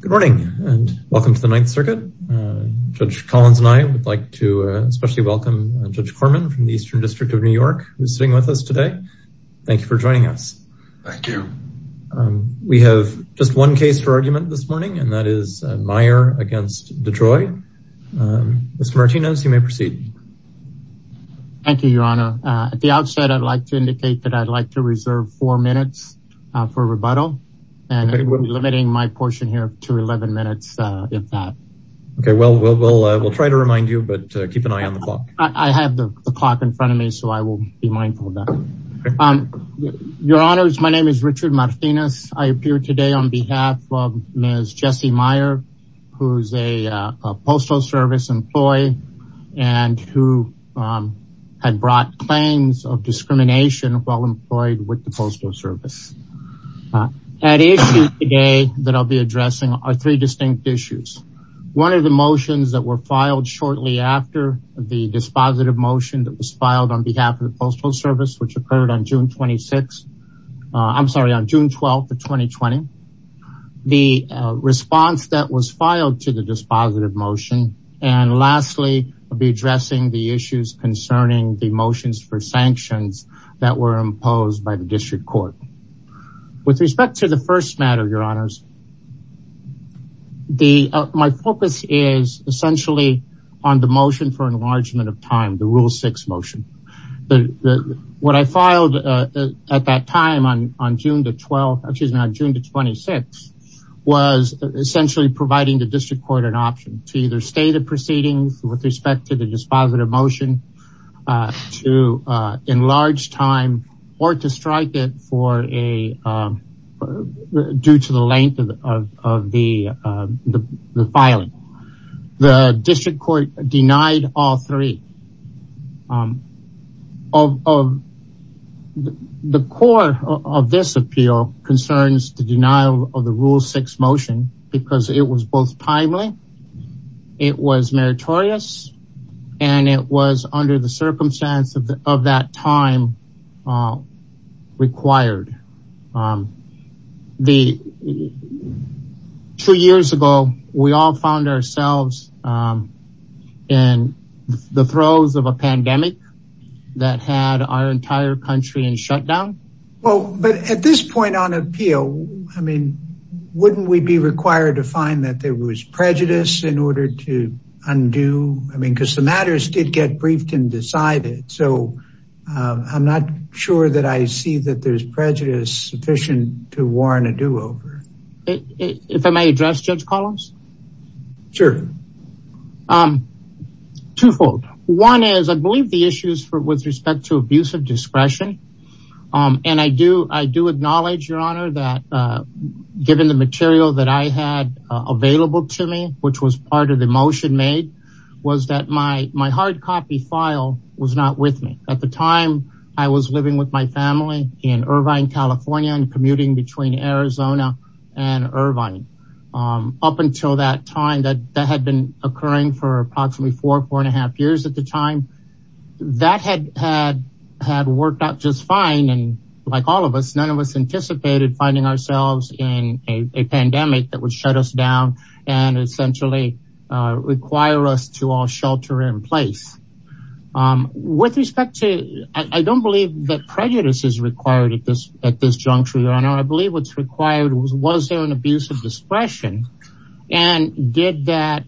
Good morning and welcome to the Ninth Circuit. Judge Collins and I would like to especially welcome Judge Corman from the Eastern District of New York, who's sitting with us today. Thank you for joining us. Thank you. We have just one case for argument this morning and that is Meyer v. DeJoy. Mr. Martinez, you may proceed. Thank you, Your Honor. At the moment, we have a rebuttal and limiting my portion here to 11 minutes, if that. Okay, well, we'll try to remind you, but keep an eye on the clock. I have the clock in front of me, so I will be mindful of that. Your Honors, my name is Richard Martinez. I appear today on behalf of Ms. Jessie Meyer, who's a Postal Service employee and who had brought claims of discrimination while employed with the Postal Service. At issue today that I'll be addressing are three distinct issues. One of the motions that were filed shortly after the dispositive motion that was filed on behalf of the Postal Service, which occurred on June 26, I'm sorry, on June 12th of 2020. The response that was filed to the dispositive motion, and lastly, I'll be addressing the issues concerning the motions for sanctions that were imposed by the District Court. With respect to the first matter, Your Honors, my focus is essentially on the motion for enlargement of time, the Rule 6 motion. What I filed at that time on June the 12th, excuse me, on June the 26th, was essentially providing the proceedings with respect to the dispositive motion to enlarge time or to strike it for a due to the length of the filing. The District Court denied all three. The core of this appeal concerns the denial of the Rule 6 motion because it was both timely, it was meritorious, and it was under the circumstance of that time required. Two years ago, we all found ourselves in the throes of a pandemic that had our entire country in shutdown. Well, but at this point on appeal, I mean, wouldn't we be required to find that there was prejudice in order to undo? I mean, because the matters did get briefed and decided, so I'm not sure that I see that there's prejudice sufficient to warrant a do-over. If I may address, Judge Collins? Sure. Twofold. One is, I believe the issues with respect to abuse of discretion, and I do acknowledge, Your Honor, that given the material that I had available to me, which was part of the motion made, was that my hard copy file was not with me. At the time, I was living with my family in Irvine, California, and commuting between Arizona and Irvine. Up until that time, that had been occurring for approximately four, four and a half years at the time. That had worked out just fine, and like all of us, none of us in a pandemic that would shut us down and essentially require us to all shelter in place. With respect to, I don't believe that prejudice is required at this, at this juncture, Your Honor. I believe what's required was, was there an abuse of discretion, and did that,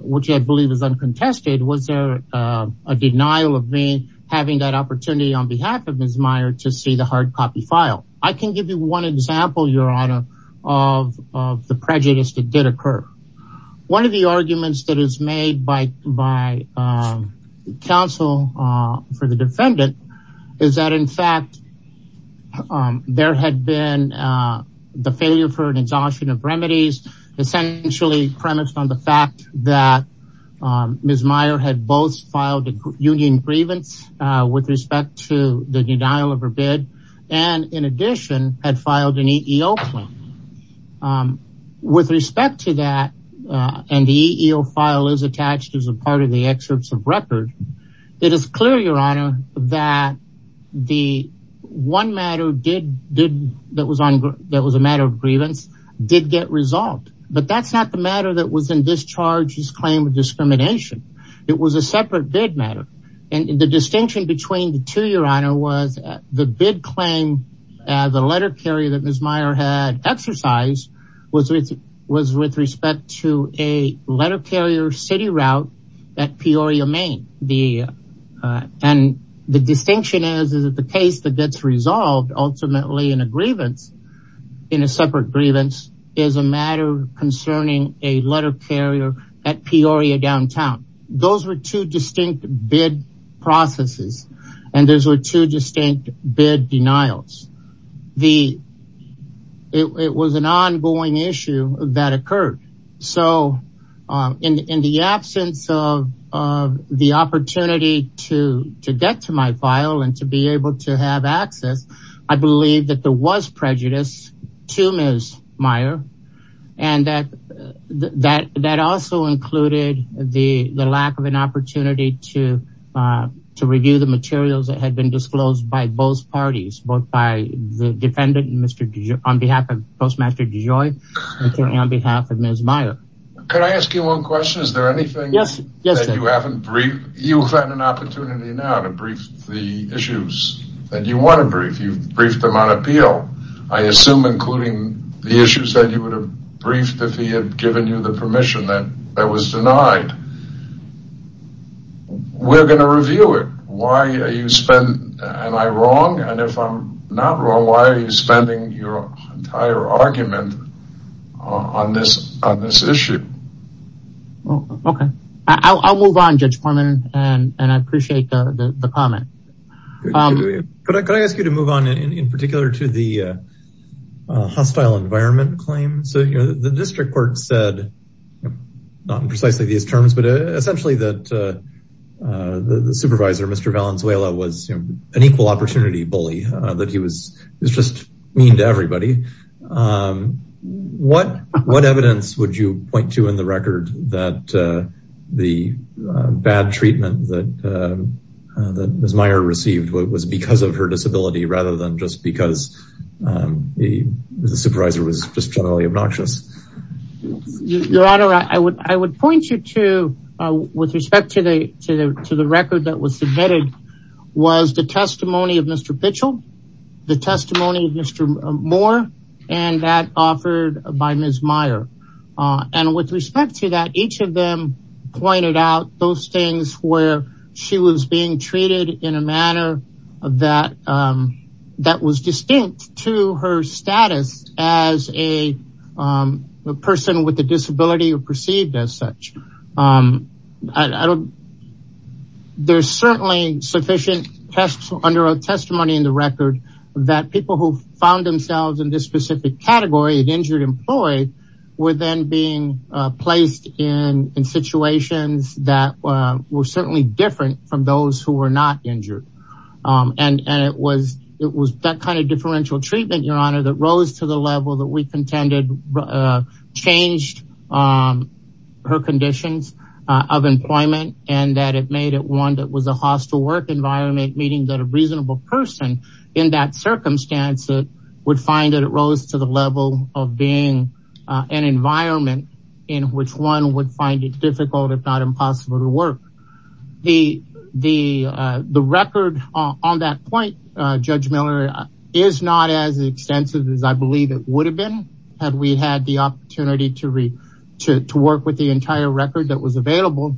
which I believe is uncontested, was there a denial of me having that opportunity on behalf of Ms. Meyer to see the hard of the prejudice that did occur. One of the arguments that is made by, by counsel for the defendant is that, in fact, there had been the failure for an exhaustion of remedies, essentially premised on the fact that Ms. Meyer had both filed a union grievance with respect to the denial of her bid, and in addition, had filed an EEO claim. With respect to that, and the EEO file is attached as a part of the excerpts of record, it is clear, Your Honor, that the one matter did, did, that was on, that was a matter of grievance, did get resolved. But that's not the matter that was in this charge's claim of discrimination. It was a separate bid matter. And the distinction between the two, Your Honor, was the bid claim, the letter carrier that Ms. Meyer had exercised was with, was with respect to a letter carrier city route at Peoria, Maine. The, and the distinction is, is that the case that gets resolved ultimately in a grievance, in a separate grievance, is a matter concerning a letter carrier at Peoria downtown. Those were two distinct bid processes. And those were two distinct bid denials. The, it was an ongoing issue that occurred. So in the absence of, of the opportunity to, to get to my file and to be able to have access, I believe that there was prejudice to Ms. Meyer. And that, that, that also included the lack of an opportunity to, to review the materials that had been disclosed by both parties, both by the defendant and Mr. DeJoy, on behalf of Postmaster DeJoy, and on behalf of Ms. Meyer. Could I ask you one question? Is there anything that you haven't briefed? You've had an opportunity now to brief the issues that you want to brief. You've briefed them on appeal. I assume, including the issues that you would have briefed if he had given you the permission that was denied. We're going to review it. Why are you spending, am I wrong? And if I'm not wrong, why are you spending your entire argument on this, on this issue? Okay. I'll, I'll move on Judge Foreman. And, and I appreciate the comment. Could I, could I ask you to move on in particular to the hostile environment claim? So, you know, the district court said, not in precisely these terms, but essentially that the supervisor, Mr. Valenzuela was an equal opportunity bully, that he was, was just mean to everybody. What, what evidence would you point to in the record that the bad treatment that, that Ms. Meyer received was because of her disability rather than just because the supervisor was just generally obnoxious? Your Honor, I would, I would point you to, with respect to the, to the, to the record that was submitted was the testimony of Mr. Pitchell, the testimony of Mr. Moore, and that offered by Ms. Meyer. And with respect to that, each of them pointed out those things where she was being treated in a manner of that, that was distinct to her status as a person with a disability or perceived as such. I don't, there's certainly sufficient tests under a testimony in the record that people who found themselves in this specific category of injured employee were then being placed in, in situations that were certainly different from those who were not injured. And, and it was, it was that kind of differential treatment, Your Honor, that rose to the level that we contended changed her conditions of employment and that it made it one that was a hostile work environment, meaning that a reasonable person in that circumstance would find that it rose to the level of being an environment in which one would find it difficult, if not impossible to work. The, the, the record on that point, Judge Miller, is not as extensive as I believe it would have been, had we had the opportunity to re, to work with the entire record that was available.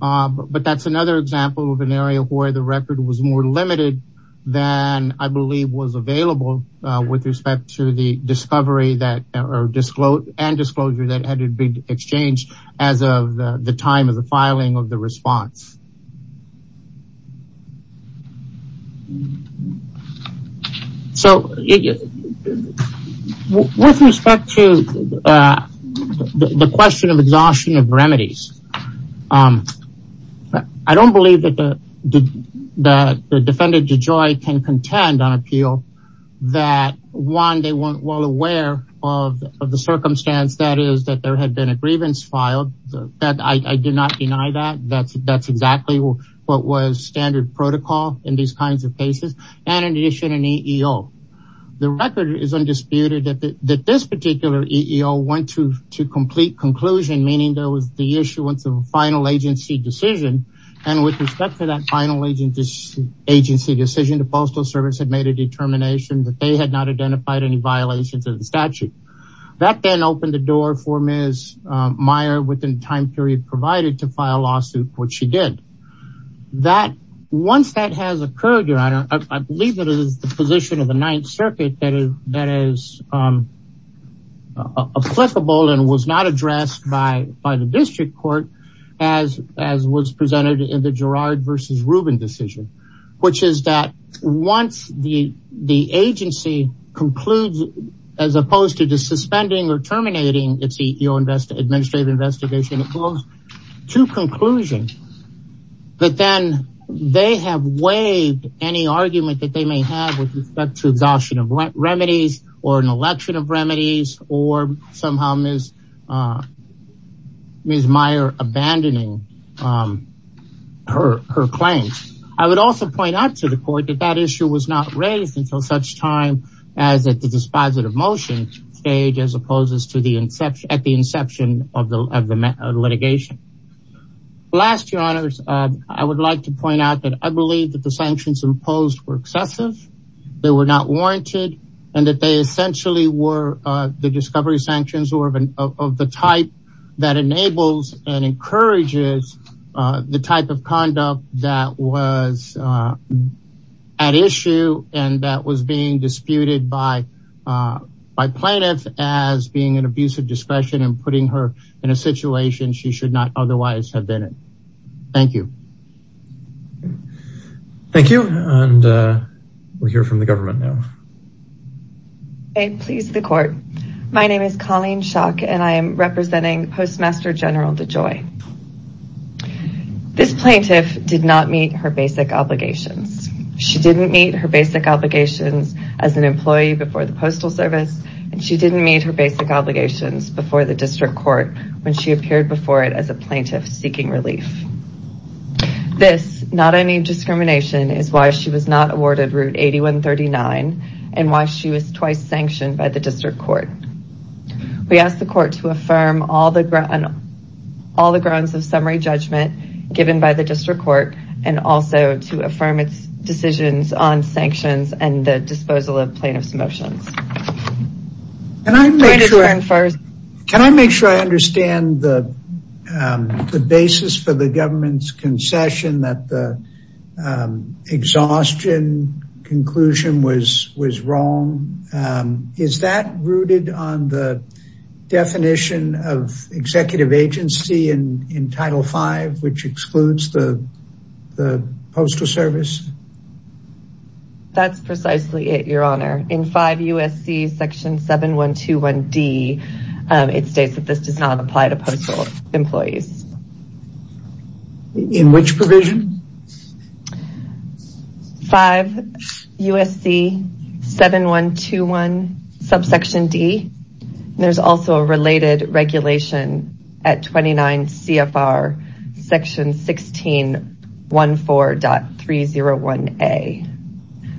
But that's another example of an area where the record was more limited than I believe was available with respect to the that had been exchanged as of the time of the filing of the response. So with respect to the question of exhaustion of remedies, I don't believe that the, that the defendant DeJoy can contend on appeal that one, they weren't well is that there had been a grievance filed that I did not deny that that's, that's exactly what was standard protocol in these kinds of cases. And in addition, an EEO, the record is undisputed that that this particular EEO went to, to complete conclusion, meaning there was the issuance of a final agency decision. And with respect to that final agent agency decision, the postal service had made a determination that they had not identified any violations of the statute. That then opened the door for Ms. Meyer within time period provided to file lawsuit, which she did that once that has occurred, your honor, I believe that it is the position of the ninth circuit that is, that is applicable and was not addressed by, by the district court as, as was presented in the Gerard versus Rubin decision, which is that once the, the agency concludes, as opposed to just suspending or terminating its EEO invest administrative investigation, it goes to conclusion, but then they have waived any argument that they may have with respect to exhaustion of remedies or an election of remedies or somehow Ms. Ms. Meyer abandoning her, her claims. I would also point out to the court that that issue was not raised until such time as at the dispositive motion stage, as opposed to the inception at the inception of the, of the litigation last year honors. I would like to point out that I believe that the sanctions imposed were excessive. They were not warranted and that they essentially were the discovery sanctions or of, of, of the type that enables and encourages the type of conduct that was at issue. And that was being disputed by, by plaintiffs as being an abusive discretion and putting her in a situation she should not otherwise have been in. Thank you. Thank you. And we'll hear from the government now. Okay. Please the court. My name is Colleen Shock and I am representing Postmaster General DeJoy. This plaintiff did not meet her basic obligations. She didn't meet her basic obligations as an employee before the postal service. And she didn't meet her basic obligations before the district court when she appeared before it as a plaintiff seeking relief. This not any discrimination is why she was not awarded route 8139 and why she was twice by the district court. We asked the court to affirm all the grounds of summary judgment given by the district court and also to affirm its decisions on sanctions and the disposal of plaintiff's motions. Can I make sure I understand the basis for the government's Is that rooted on the definition of executive agency and in Title V, which excludes the postal service? That's precisely it, your honor. In 5 U.S.C. Section 7121D, it states that this does not apply to postal employees. In which provision? 5 U.S.C. 7121 subsection D. There's also a related regulation at 29 C.F.R. Section 1614.301A.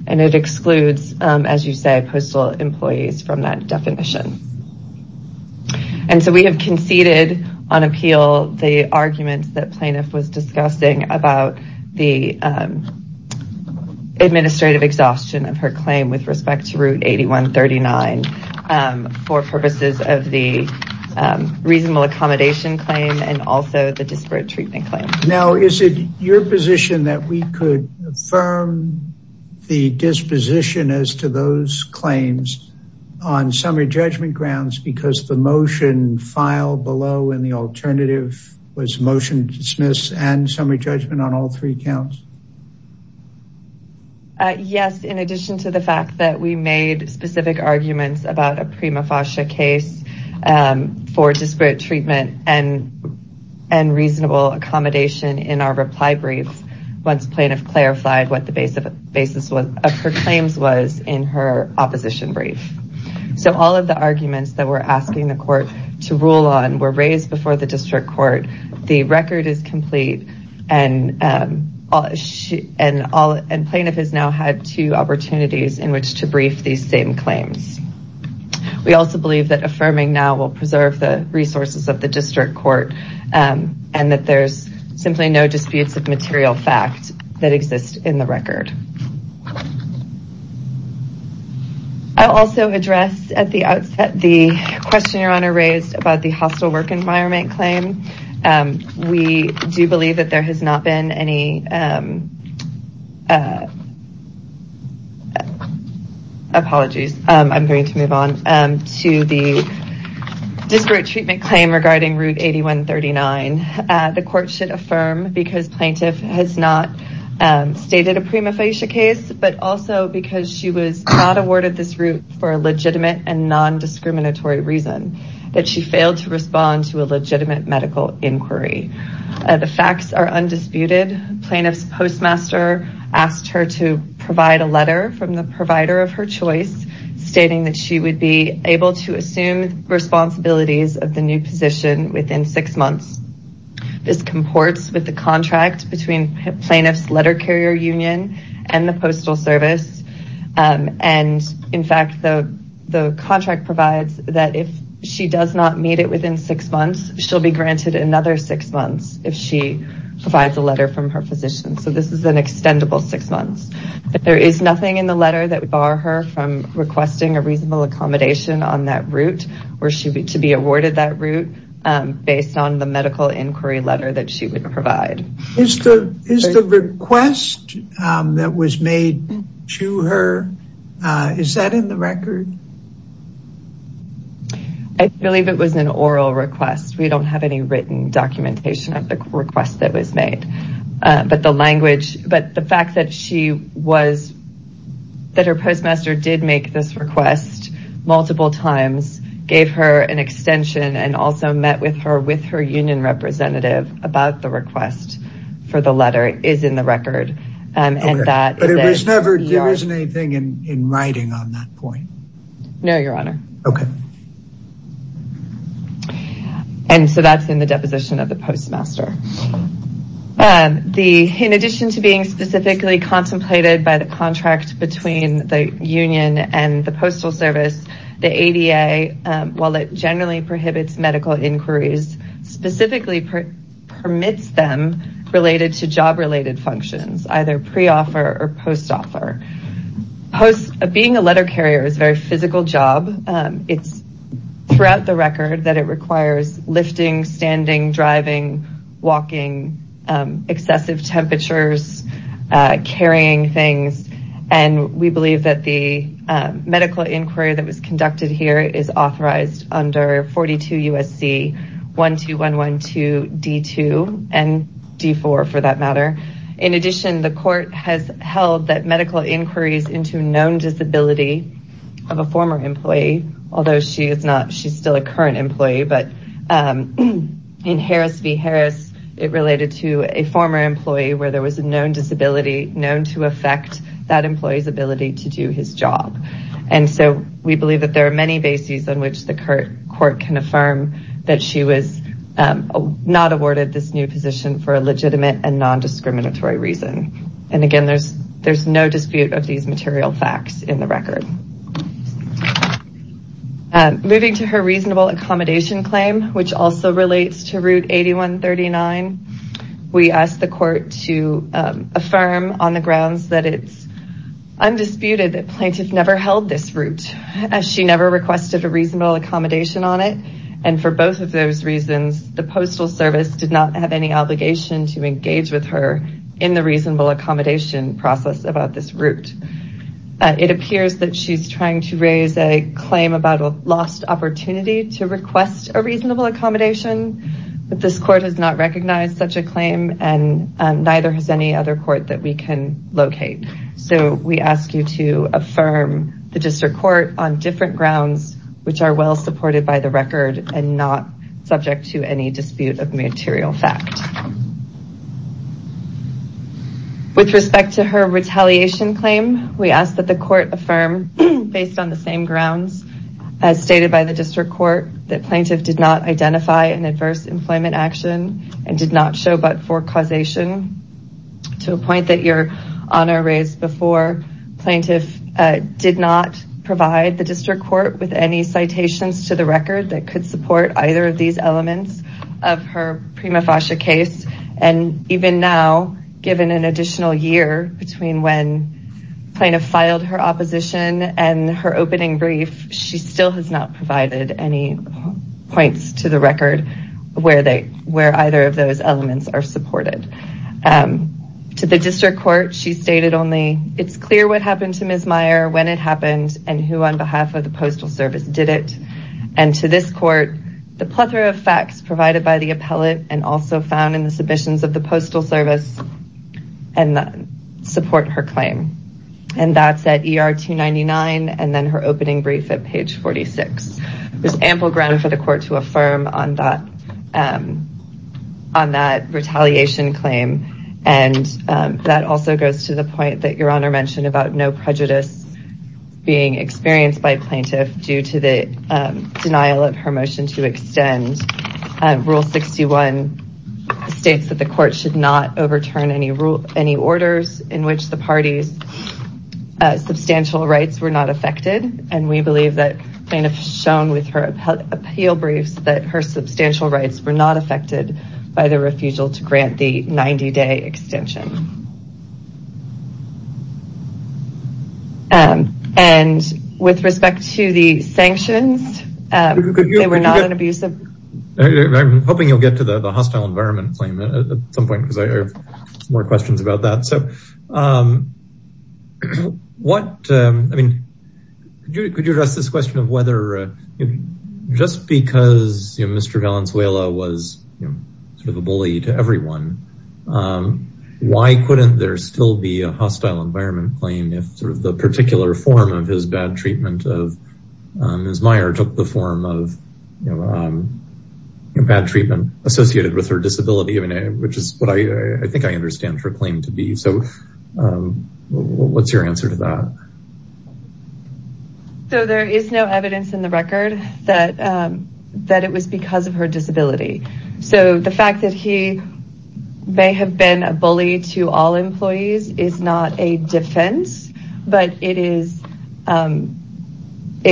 And it excludes, as you say, postal employees from that definition. And so we have conceded on appeal the arguments that plaintiff was discussing about the administrative exhaustion of her claim with respect to route 8139 for purposes of the reasonable accommodation claim and also the disparate treatment claim. Now is it your position that we could affirm the disposition as to those claims on summary judgment grounds because the motion filed below in the alternative was motion to dismiss and summary judgment on all three counts? Yes, in addition to the fact that we made specific arguments about a prima facie case for disparate treatment and reasonable accommodation in our reply briefs once plaintiff clarified what the basis of her claims was in her opposition brief. So all of the arguments that we're asking the court to rule on were raised before the district court. The record is complete and plaintiff has now had two opportunities in which to brief these same claims. We also believe that affirming now will preserve the resources of the district court and that there's simply no disputes of material fact that exist in the record. I'll also address at the outset the question your honor raised about the work environment claim. We do believe that there has not been any apologies. I'm going to move on to the disparate treatment claim regarding route 8139. The court should affirm because plaintiff has not stated a prima facie case but also because she was not awarded this route for a legitimate and non-discriminatory reason. That she failed to respond to a legitimate medical inquiry. The facts are undisputed. Plaintiff's postmaster asked her to provide a letter from the provider of her choice stating that she would be able to assume responsibilities of the new position within six months. This comports with the contract between plaintiff's letter carrier union and the postal service. In fact the contract provides that if she does not meet it within six months she'll be granted another six months if she provides a letter from her physician. So this is an extendable six months. There is nothing in the letter that would bar her from requesting a reasonable accommodation on that route where she to be awarded that route based on the medical inquiry letter that she would provide. Is the request that was made to her, is that in the record? I believe it was an oral request. We don't have any written documentation of the request that was made. But the fact that her postmaster did make this request multiple times, gave her an extension, and also met with her with her union representative about the request for the letter is in the record. But there isn't anything in writing on that point? No your honor. Okay. And so that's in the deposition of the postmaster. In addition to being specifically contemplated by the contract between the union and the postal service, the ADA, while it generally prohibits medical inquiries, specifically permits them related to job related functions, either pre-offer or post-offer. Being a letter carrier is a very physical job. It's throughout the record that it requires lifting, standing, driving, walking, excessive temperatures, carrying things, and we believe that the medical inquiry that was conducted here is authorized under 42 USC 12112 D2 and D4 for that matter. In addition, the court has held that medical inquiries into known disability of a former employee, although she was a former employee where there was a known disability known to affect that employee's ability to do his job. And so we believe that there are many bases on which the court can affirm that she was not awarded this new position for a legitimate and non-discriminatory reason. And again, there's no dispute of these material facts in the record. Moving to her reasonable accommodation claim, which also relates to Route 8139, we asked the court to affirm on the grounds that it's undisputed that plaintiff never held this route, as she never requested a reasonable accommodation on it. And for both of those reasons, the postal service did not have any obligation to engage with her in the reasonable accommodation process about this route. It appears that she's trying to raise a claim about a lost opportunity to request a reasonable accommodation, but this court has not recognized such a claim and neither has any other court that we can locate. So we ask you to affirm the district court on different grounds, which are well supported by the record and not subject to any dispute of material fact. With respect to her retaliation claim, we ask that the court affirm based on the same grounds as stated by the district court, that plaintiff did not identify an adverse employment action and did not show but for causation. To a point that your honor raised before, plaintiff did not provide the district record that could support either of these elements of her prima facie case. And even now, given an additional year between when plaintiff filed her opposition and her opening brief, she still has not provided any points to the record where either of those elements are supported. To the district court, she stated only, it's clear what happened to Ms. Meyer, when it happened and who on behalf of the postal service did it. And to this court, the plethora of facts provided by the appellate and also found in the submissions of the postal service support her claim. And that's at ER 299 and then her opening brief at page 46. There's ample ground for the court to affirm on that retaliation claim. And that also goes to the being experienced by plaintiff due to the denial of her motion to extend rule 61 states that the court should not overturn any orders in which the parties substantial rights were not affected. And we believe that plaintiff shown with her appeal briefs that her substantial rights were not affected by the refusal to grant the 90 day extension. And with respect to the sanctions, they were not an abusive. I'm hoping you'll get to the hostile environment claim at some point, because I have more questions about that. So what, I mean, could you address this question of whether just because Mr. Valenzuela was sort of a bully to everyone, why couldn't there still be a hostile environment claim if sort of the particular form of his bad treatment of Ms. Meyer took the form of bad treatment associated with her disability? I mean, which is what I think I understand her claim to be. So what's your answer to that? So there is no evidence in the record that it was because of her disability. So the fact that he may have been a bully to all employees is not a defense, but it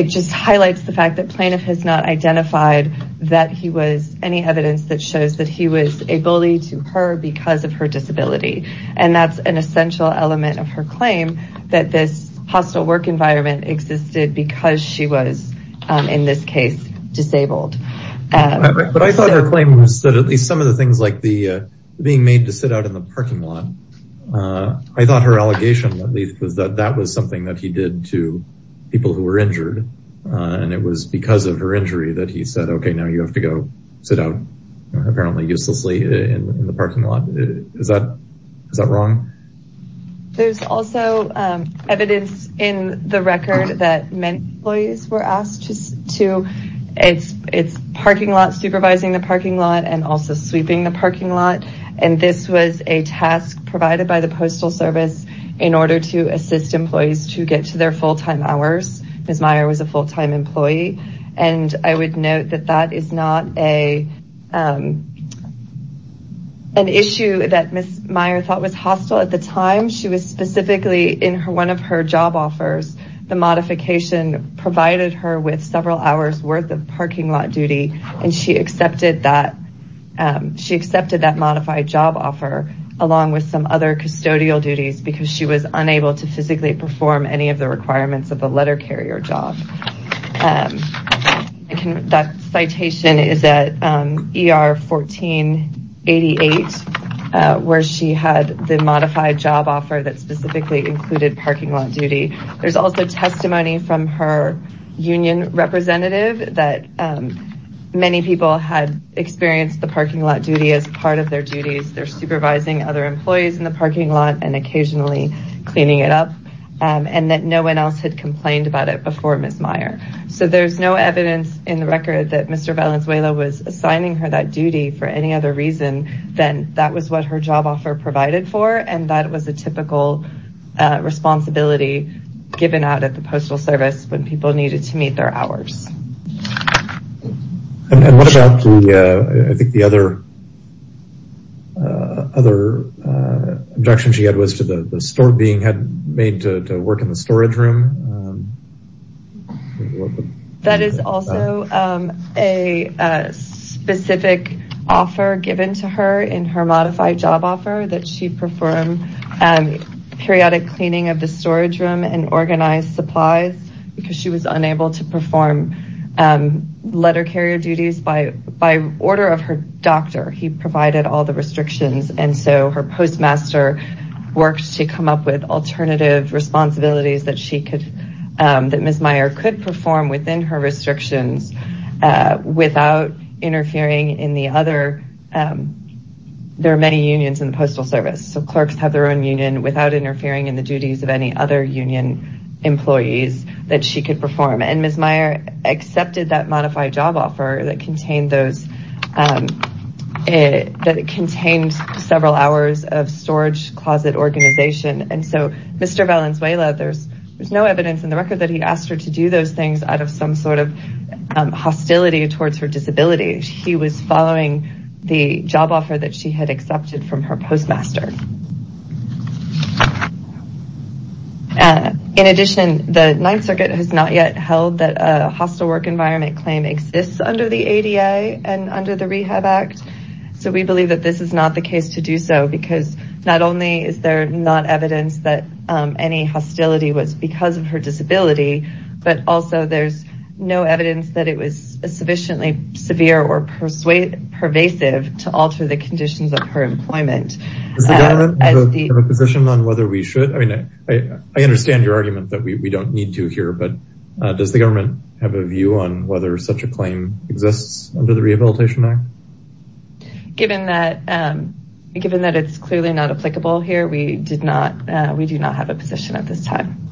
just highlights the fact that plaintiff has not identified that he was any evidence that shows that he was a bully to her because of her disability. And that's an essential element of her claim that this hostile work environment existed because she was in this case disabled. But I thought her claim was that at least some of the things like being made to sit out in the parking lot, I thought her allegation at least was that that was something that he did to people who were injured. And it was because of her injury that he said, okay, now you have to go sit out apparently uselessly in the parking lot. Is that wrong? There's also evidence in the record that many employees were asked to, it's parking lot and this was a task provided by the postal service in order to assist employees to get to their full time hours. Ms. Meyer was a full time employee. And I would note that that is not an issue that Ms. Meyer thought was hostile at the time. She was specifically in her, one of her job offers, the modification provided her with several hours worth of parking lot duty. And she accepted that modified job offer along with some other custodial duties because she was unable to physically perform any of the requirements of a letter carrier job. That citation is at ER 1488, where she had the modified job offer that specifically included parking lot duty. There's also testimony from her union representative that many people had experienced the parking lot duty as part of their duties. They're supervising other employees in the parking lot and occasionally cleaning it up and that no one else had complained about it before Ms. Meyer. So there's no evidence in the record that Mr. Valenzuela was assigning her that duty for any other reason than that was what her job offer provided for. And that was a typical responsibility given out at the postal service when people needed to meet their hours. And what about the, I think the other, other objection she had was to the store being made to work in the storage room. That is also a specific offer given to her in her modified job offer that she performed periodic cleaning of the storage room and organized supplies because she was unable to perform letter carrier duties by order of her doctor. He provided all the restrictions and so her postmaster worked to come up with alternative responsibilities that she could, that Ms. Meyer could perform within her restrictions without interfering in the other, there are many unions in the postal service. So clerks have their own union without interfering in the duties of any union employees that she could perform. And Ms. Meyer accepted that modified job offer that contained several hours of storage closet organization. And so Mr. Valenzuela, there's no evidence in the record that he asked her to do those things out of some sort of hostility towards her disability. He was following the job offer that she had accepted from her postmaster. In addition, the Ninth Circuit has not yet held that a hostile work environment claim exists under the ADA and under the Rehab Act. So we believe that this is not the case to do so because not only is there not evidence that any hostility was because of her disability, but also there's no evidence that it was sufficiently severe or pervasive to alter the conditions of her employment. Does the government have a position on whether we should, I mean, I understand your argument that we don't need to here, but does the government have a view on whether such a claim exists under the Rehabilitation Act? Given that it's clearly not applicable here, we do not have a position at this time.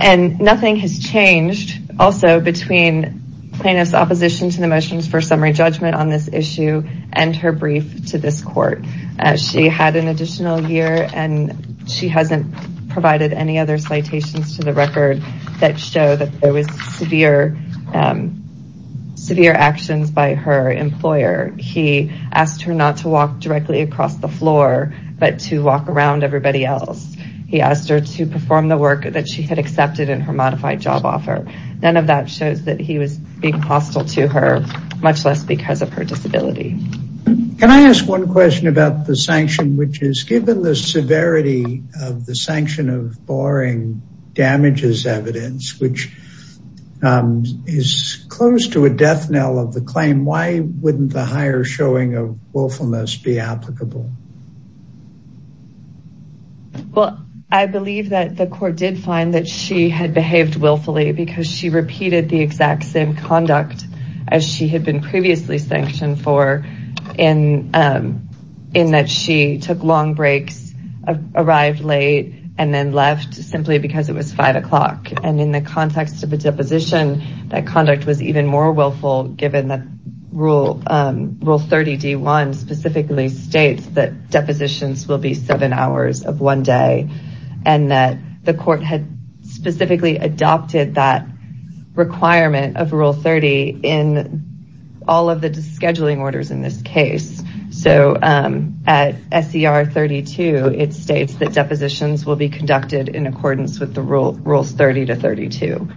And nothing has changed also between plaintiff's opposition to the motions for summary judgment on this issue and her brief to this court. She had an additional year and she hasn't provided any other citations to the record that show that there was severe actions by her employer. He asked her not to walk directly across the floor, but to walk in the direction of the everybody else. He asked her to perform the work that she had accepted in her modified job offer. None of that shows that he was being hostile to her, much less because of her disability. Can I ask one question about the sanction, which is given the severity of the sanction of barring damages evidence, which is close to a death knell of the claim, why wouldn't the higher showing of willfulness be applicable? Well, I believe that the court did find that she had behaved willfully because she repeated the exact same conduct as she had been previously sanctioned for in that she took long breaks, arrived late, and then left simply because it was five o'clock. And in the context of a deposition, that conduct was even more willful given that Rule 30 D1 specifically states that depositions will be seven hours of one day. And that the court had specifically adopted that requirement of Rule 30 in all of the scheduling orders in this case. So at SCR 32, it states that depositions will be conducted in accordance with the rules 30 to 32.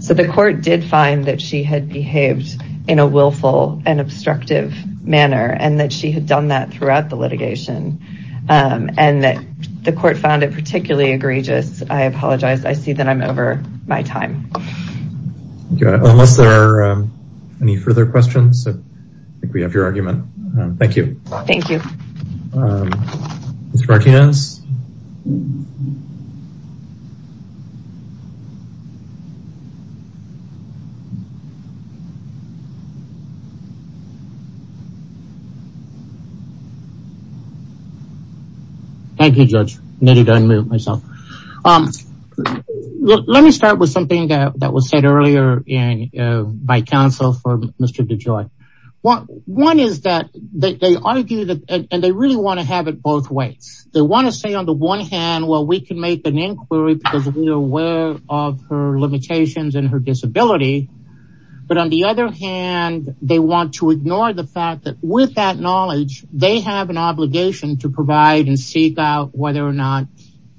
So the court did find that she had behaved in a willful and obstructive manner and that she had done that throughout the litigation. And that the court found it particularly egregious. I apologize. I see that I'm over my time. Unless there are any further questions, I think we have your argument. Thank you. Thank you. Um, Mr. Martinez? Thank you, Judge. Let me start with something that was said earlier by counsel for Mr. DeJoy. What one is that they argue that and they really want to have it both ways. They want to say on the one hand, well, we can make an inquiry because we are aware of her limitations and her disability. But on the other hand, they want to ignore the fact that with that knowledge, they have an obligation to provide and seek out whether or not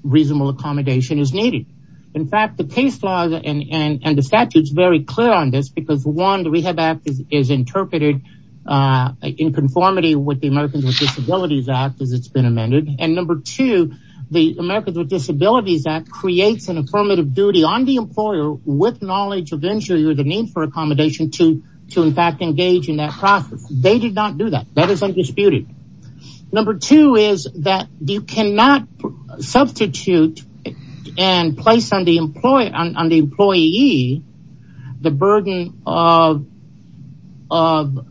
reasonable accommodation is needed. In fact, the case law and the statute is very clear on this because one, the Rehab Act is interpreted in conformity with the Americans with Disabilities Act as it's been amended. And number two, the Americans with Disabilities Act creates an affirmative duty on the employer with knowledge of injury or the need for accommodation to, to in fact, engage in that process. They did not do that. That is undisputed. Number two is that you cannot substitute and place on the employee, on the employee, the burden of, of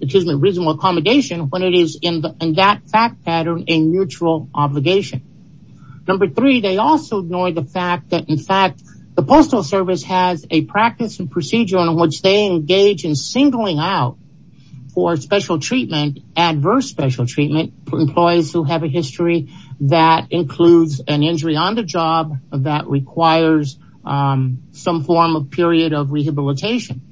excuse me, reasonable accommodation when it is in that fact pattern, a mutual obligation. Number three, they also ignore the fact that in fact, the Postal Service has a practice and procedure on which they engage in singling out for special treatment, adverse special treatment for employees who have a history that includes an injury on the job that requires some form of period of rehabilitation.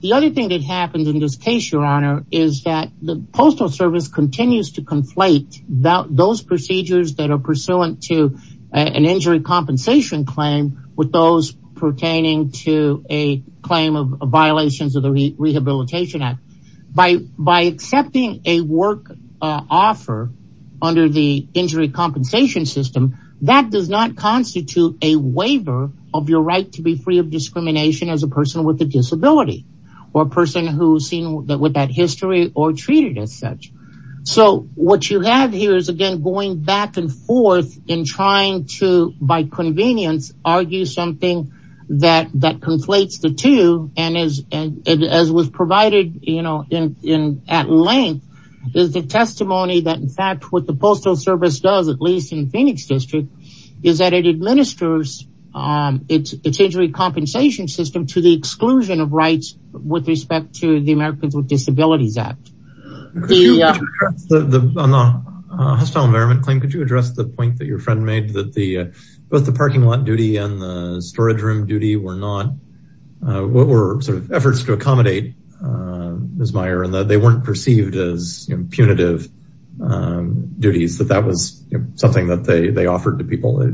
The other thing that happens in this case, Your Honor, is that the Postal Service continues to conflate those procedures that are pursuant to an injury compensation claim with those pertaining to a claim of violations of the Rehabilitation Act. By, by accepting a work offer under the injury compensation system, that does not constitute a waiver of your right to be free of discrimination as a person with a disability or a person who's seen that with that history or treated as such. So what you have here is again, going back and forth in trying to, by convenience, argue something that, that conflates the two and is, and as was provided, you know, in, in at length, is the testimony that in fact, what the Postal Service does, at least in Phoenix District, is that it administers its, its injury compensation system to the exclusion of rights with respect to the Americans with Disabilities Act. The hostile environment claim, could you address the point that your friend made that the both the parking lot duty and the storage room duty were not, what were sort of efforts to accommodate Ms. Meyer and that they weren't perceived as punitive duties, that that was something that they, they offered to people?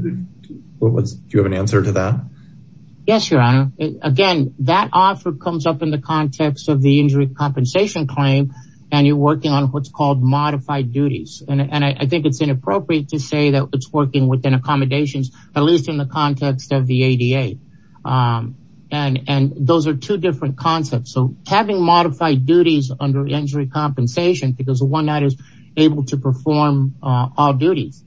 What was, do you have an answer to that? Yes, Your Honor. Again, that offer comes up in the context of the injury compensation claim, and you're working on what's called modified duties. And I think it's inappropriate to say that it's working within accommodations, at least in the context of the ADA. And, and those are two different concepts. So having modified duties under injury compensation, because the one that is able to perform all duties.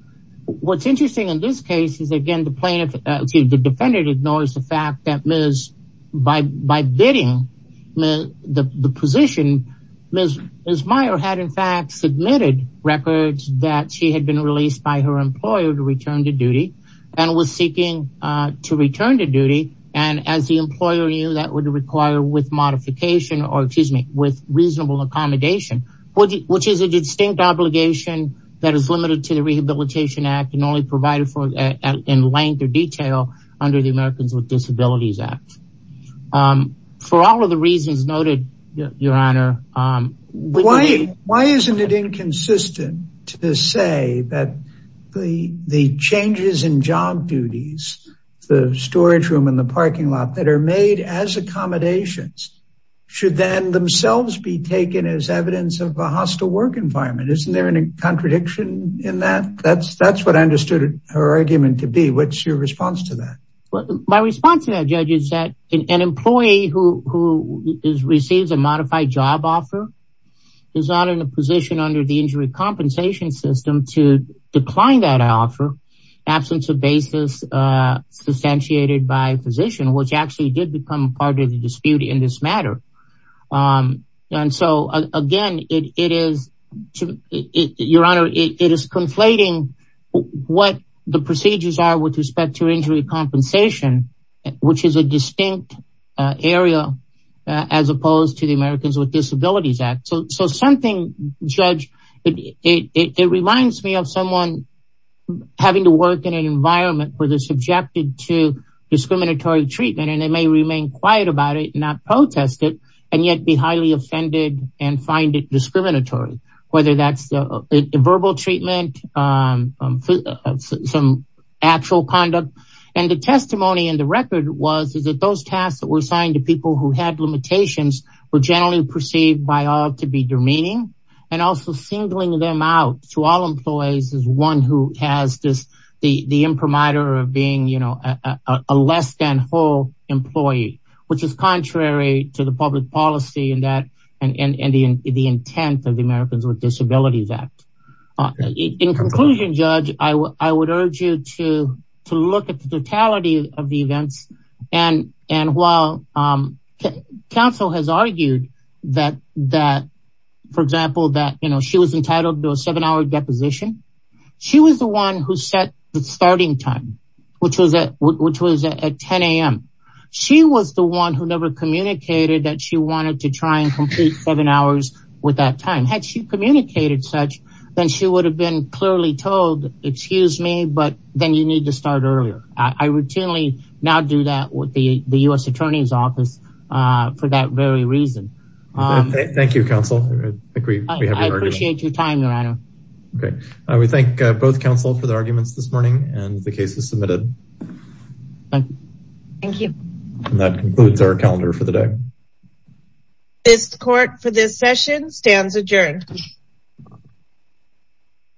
What's interesting in this case is again, the plaintiff, excuse me, the defendant ignores the by, by bidding the position Ms. Meyer had in fact submitted records that she had been released by her employer to return to duty and was seeking to return to duty. And as the employer knew that would require with modification or excuse me, with reasonable accommodation, which is a distinct obligation that is limited to the Rehabilitation Act and only provided for in length or detail under the Americans with Disabilities Act. For all of the reasons noted, Your Honor. Why isn't it inconsistent to say that the, the changes in job duties, the storage room in the parking lot that are made as accommodations should then themselves be taken as evidence of a hostile work environment? Isn't there any contradiction in that? That's, that's understood her argument to be what's your response to that? Well, my response to that judge is that an employee who is receives a modified job offer is not in a position under the injury compensation system to decline that offer absence of basis substantiated by position, which actually did become part of the dispute in this matter. And so again, it is, Your Honor, it is conflating what the procedures are with respect to injury compensation, which is a distinct area as opposed to the Americans with Disabilities Act. So, so something judge, it reminds me of someone having to work in an environment where they're quiet about it, not protest it, and yet be highly offended and find it discriminatory, whether that's a verbal treatment, some actual conduct. And the testimony in the record was, is that those tasks that were assigned to people who had limitations were generally perceived by all to be demeaning. And also singling them out to all employees is one who has this, the imprimatur of being a less than whole employee, which is contrary to the public policy in that and the intent of the Americans with Disabilities Act. In conclusion, judge, I would urge you to look at the totality of the events. And while counsel has argued that, for example, she was entitled to a seven hour deposition, she was the one who set the starting time, which was at 10am. She was the one who never communicated that she wanted to try and complete seven hours with that time. Had she communicated such, then she would have been clearly told, excuse me, but then you need to start earlier. I routinely now do that with the US Attorney's I appreciate your time, your honor. Okay. We thank both counsel for the arguments this morning and the cases submitted. Thank you. And that concludes our calendar for the day. This court for this session stands adjourned.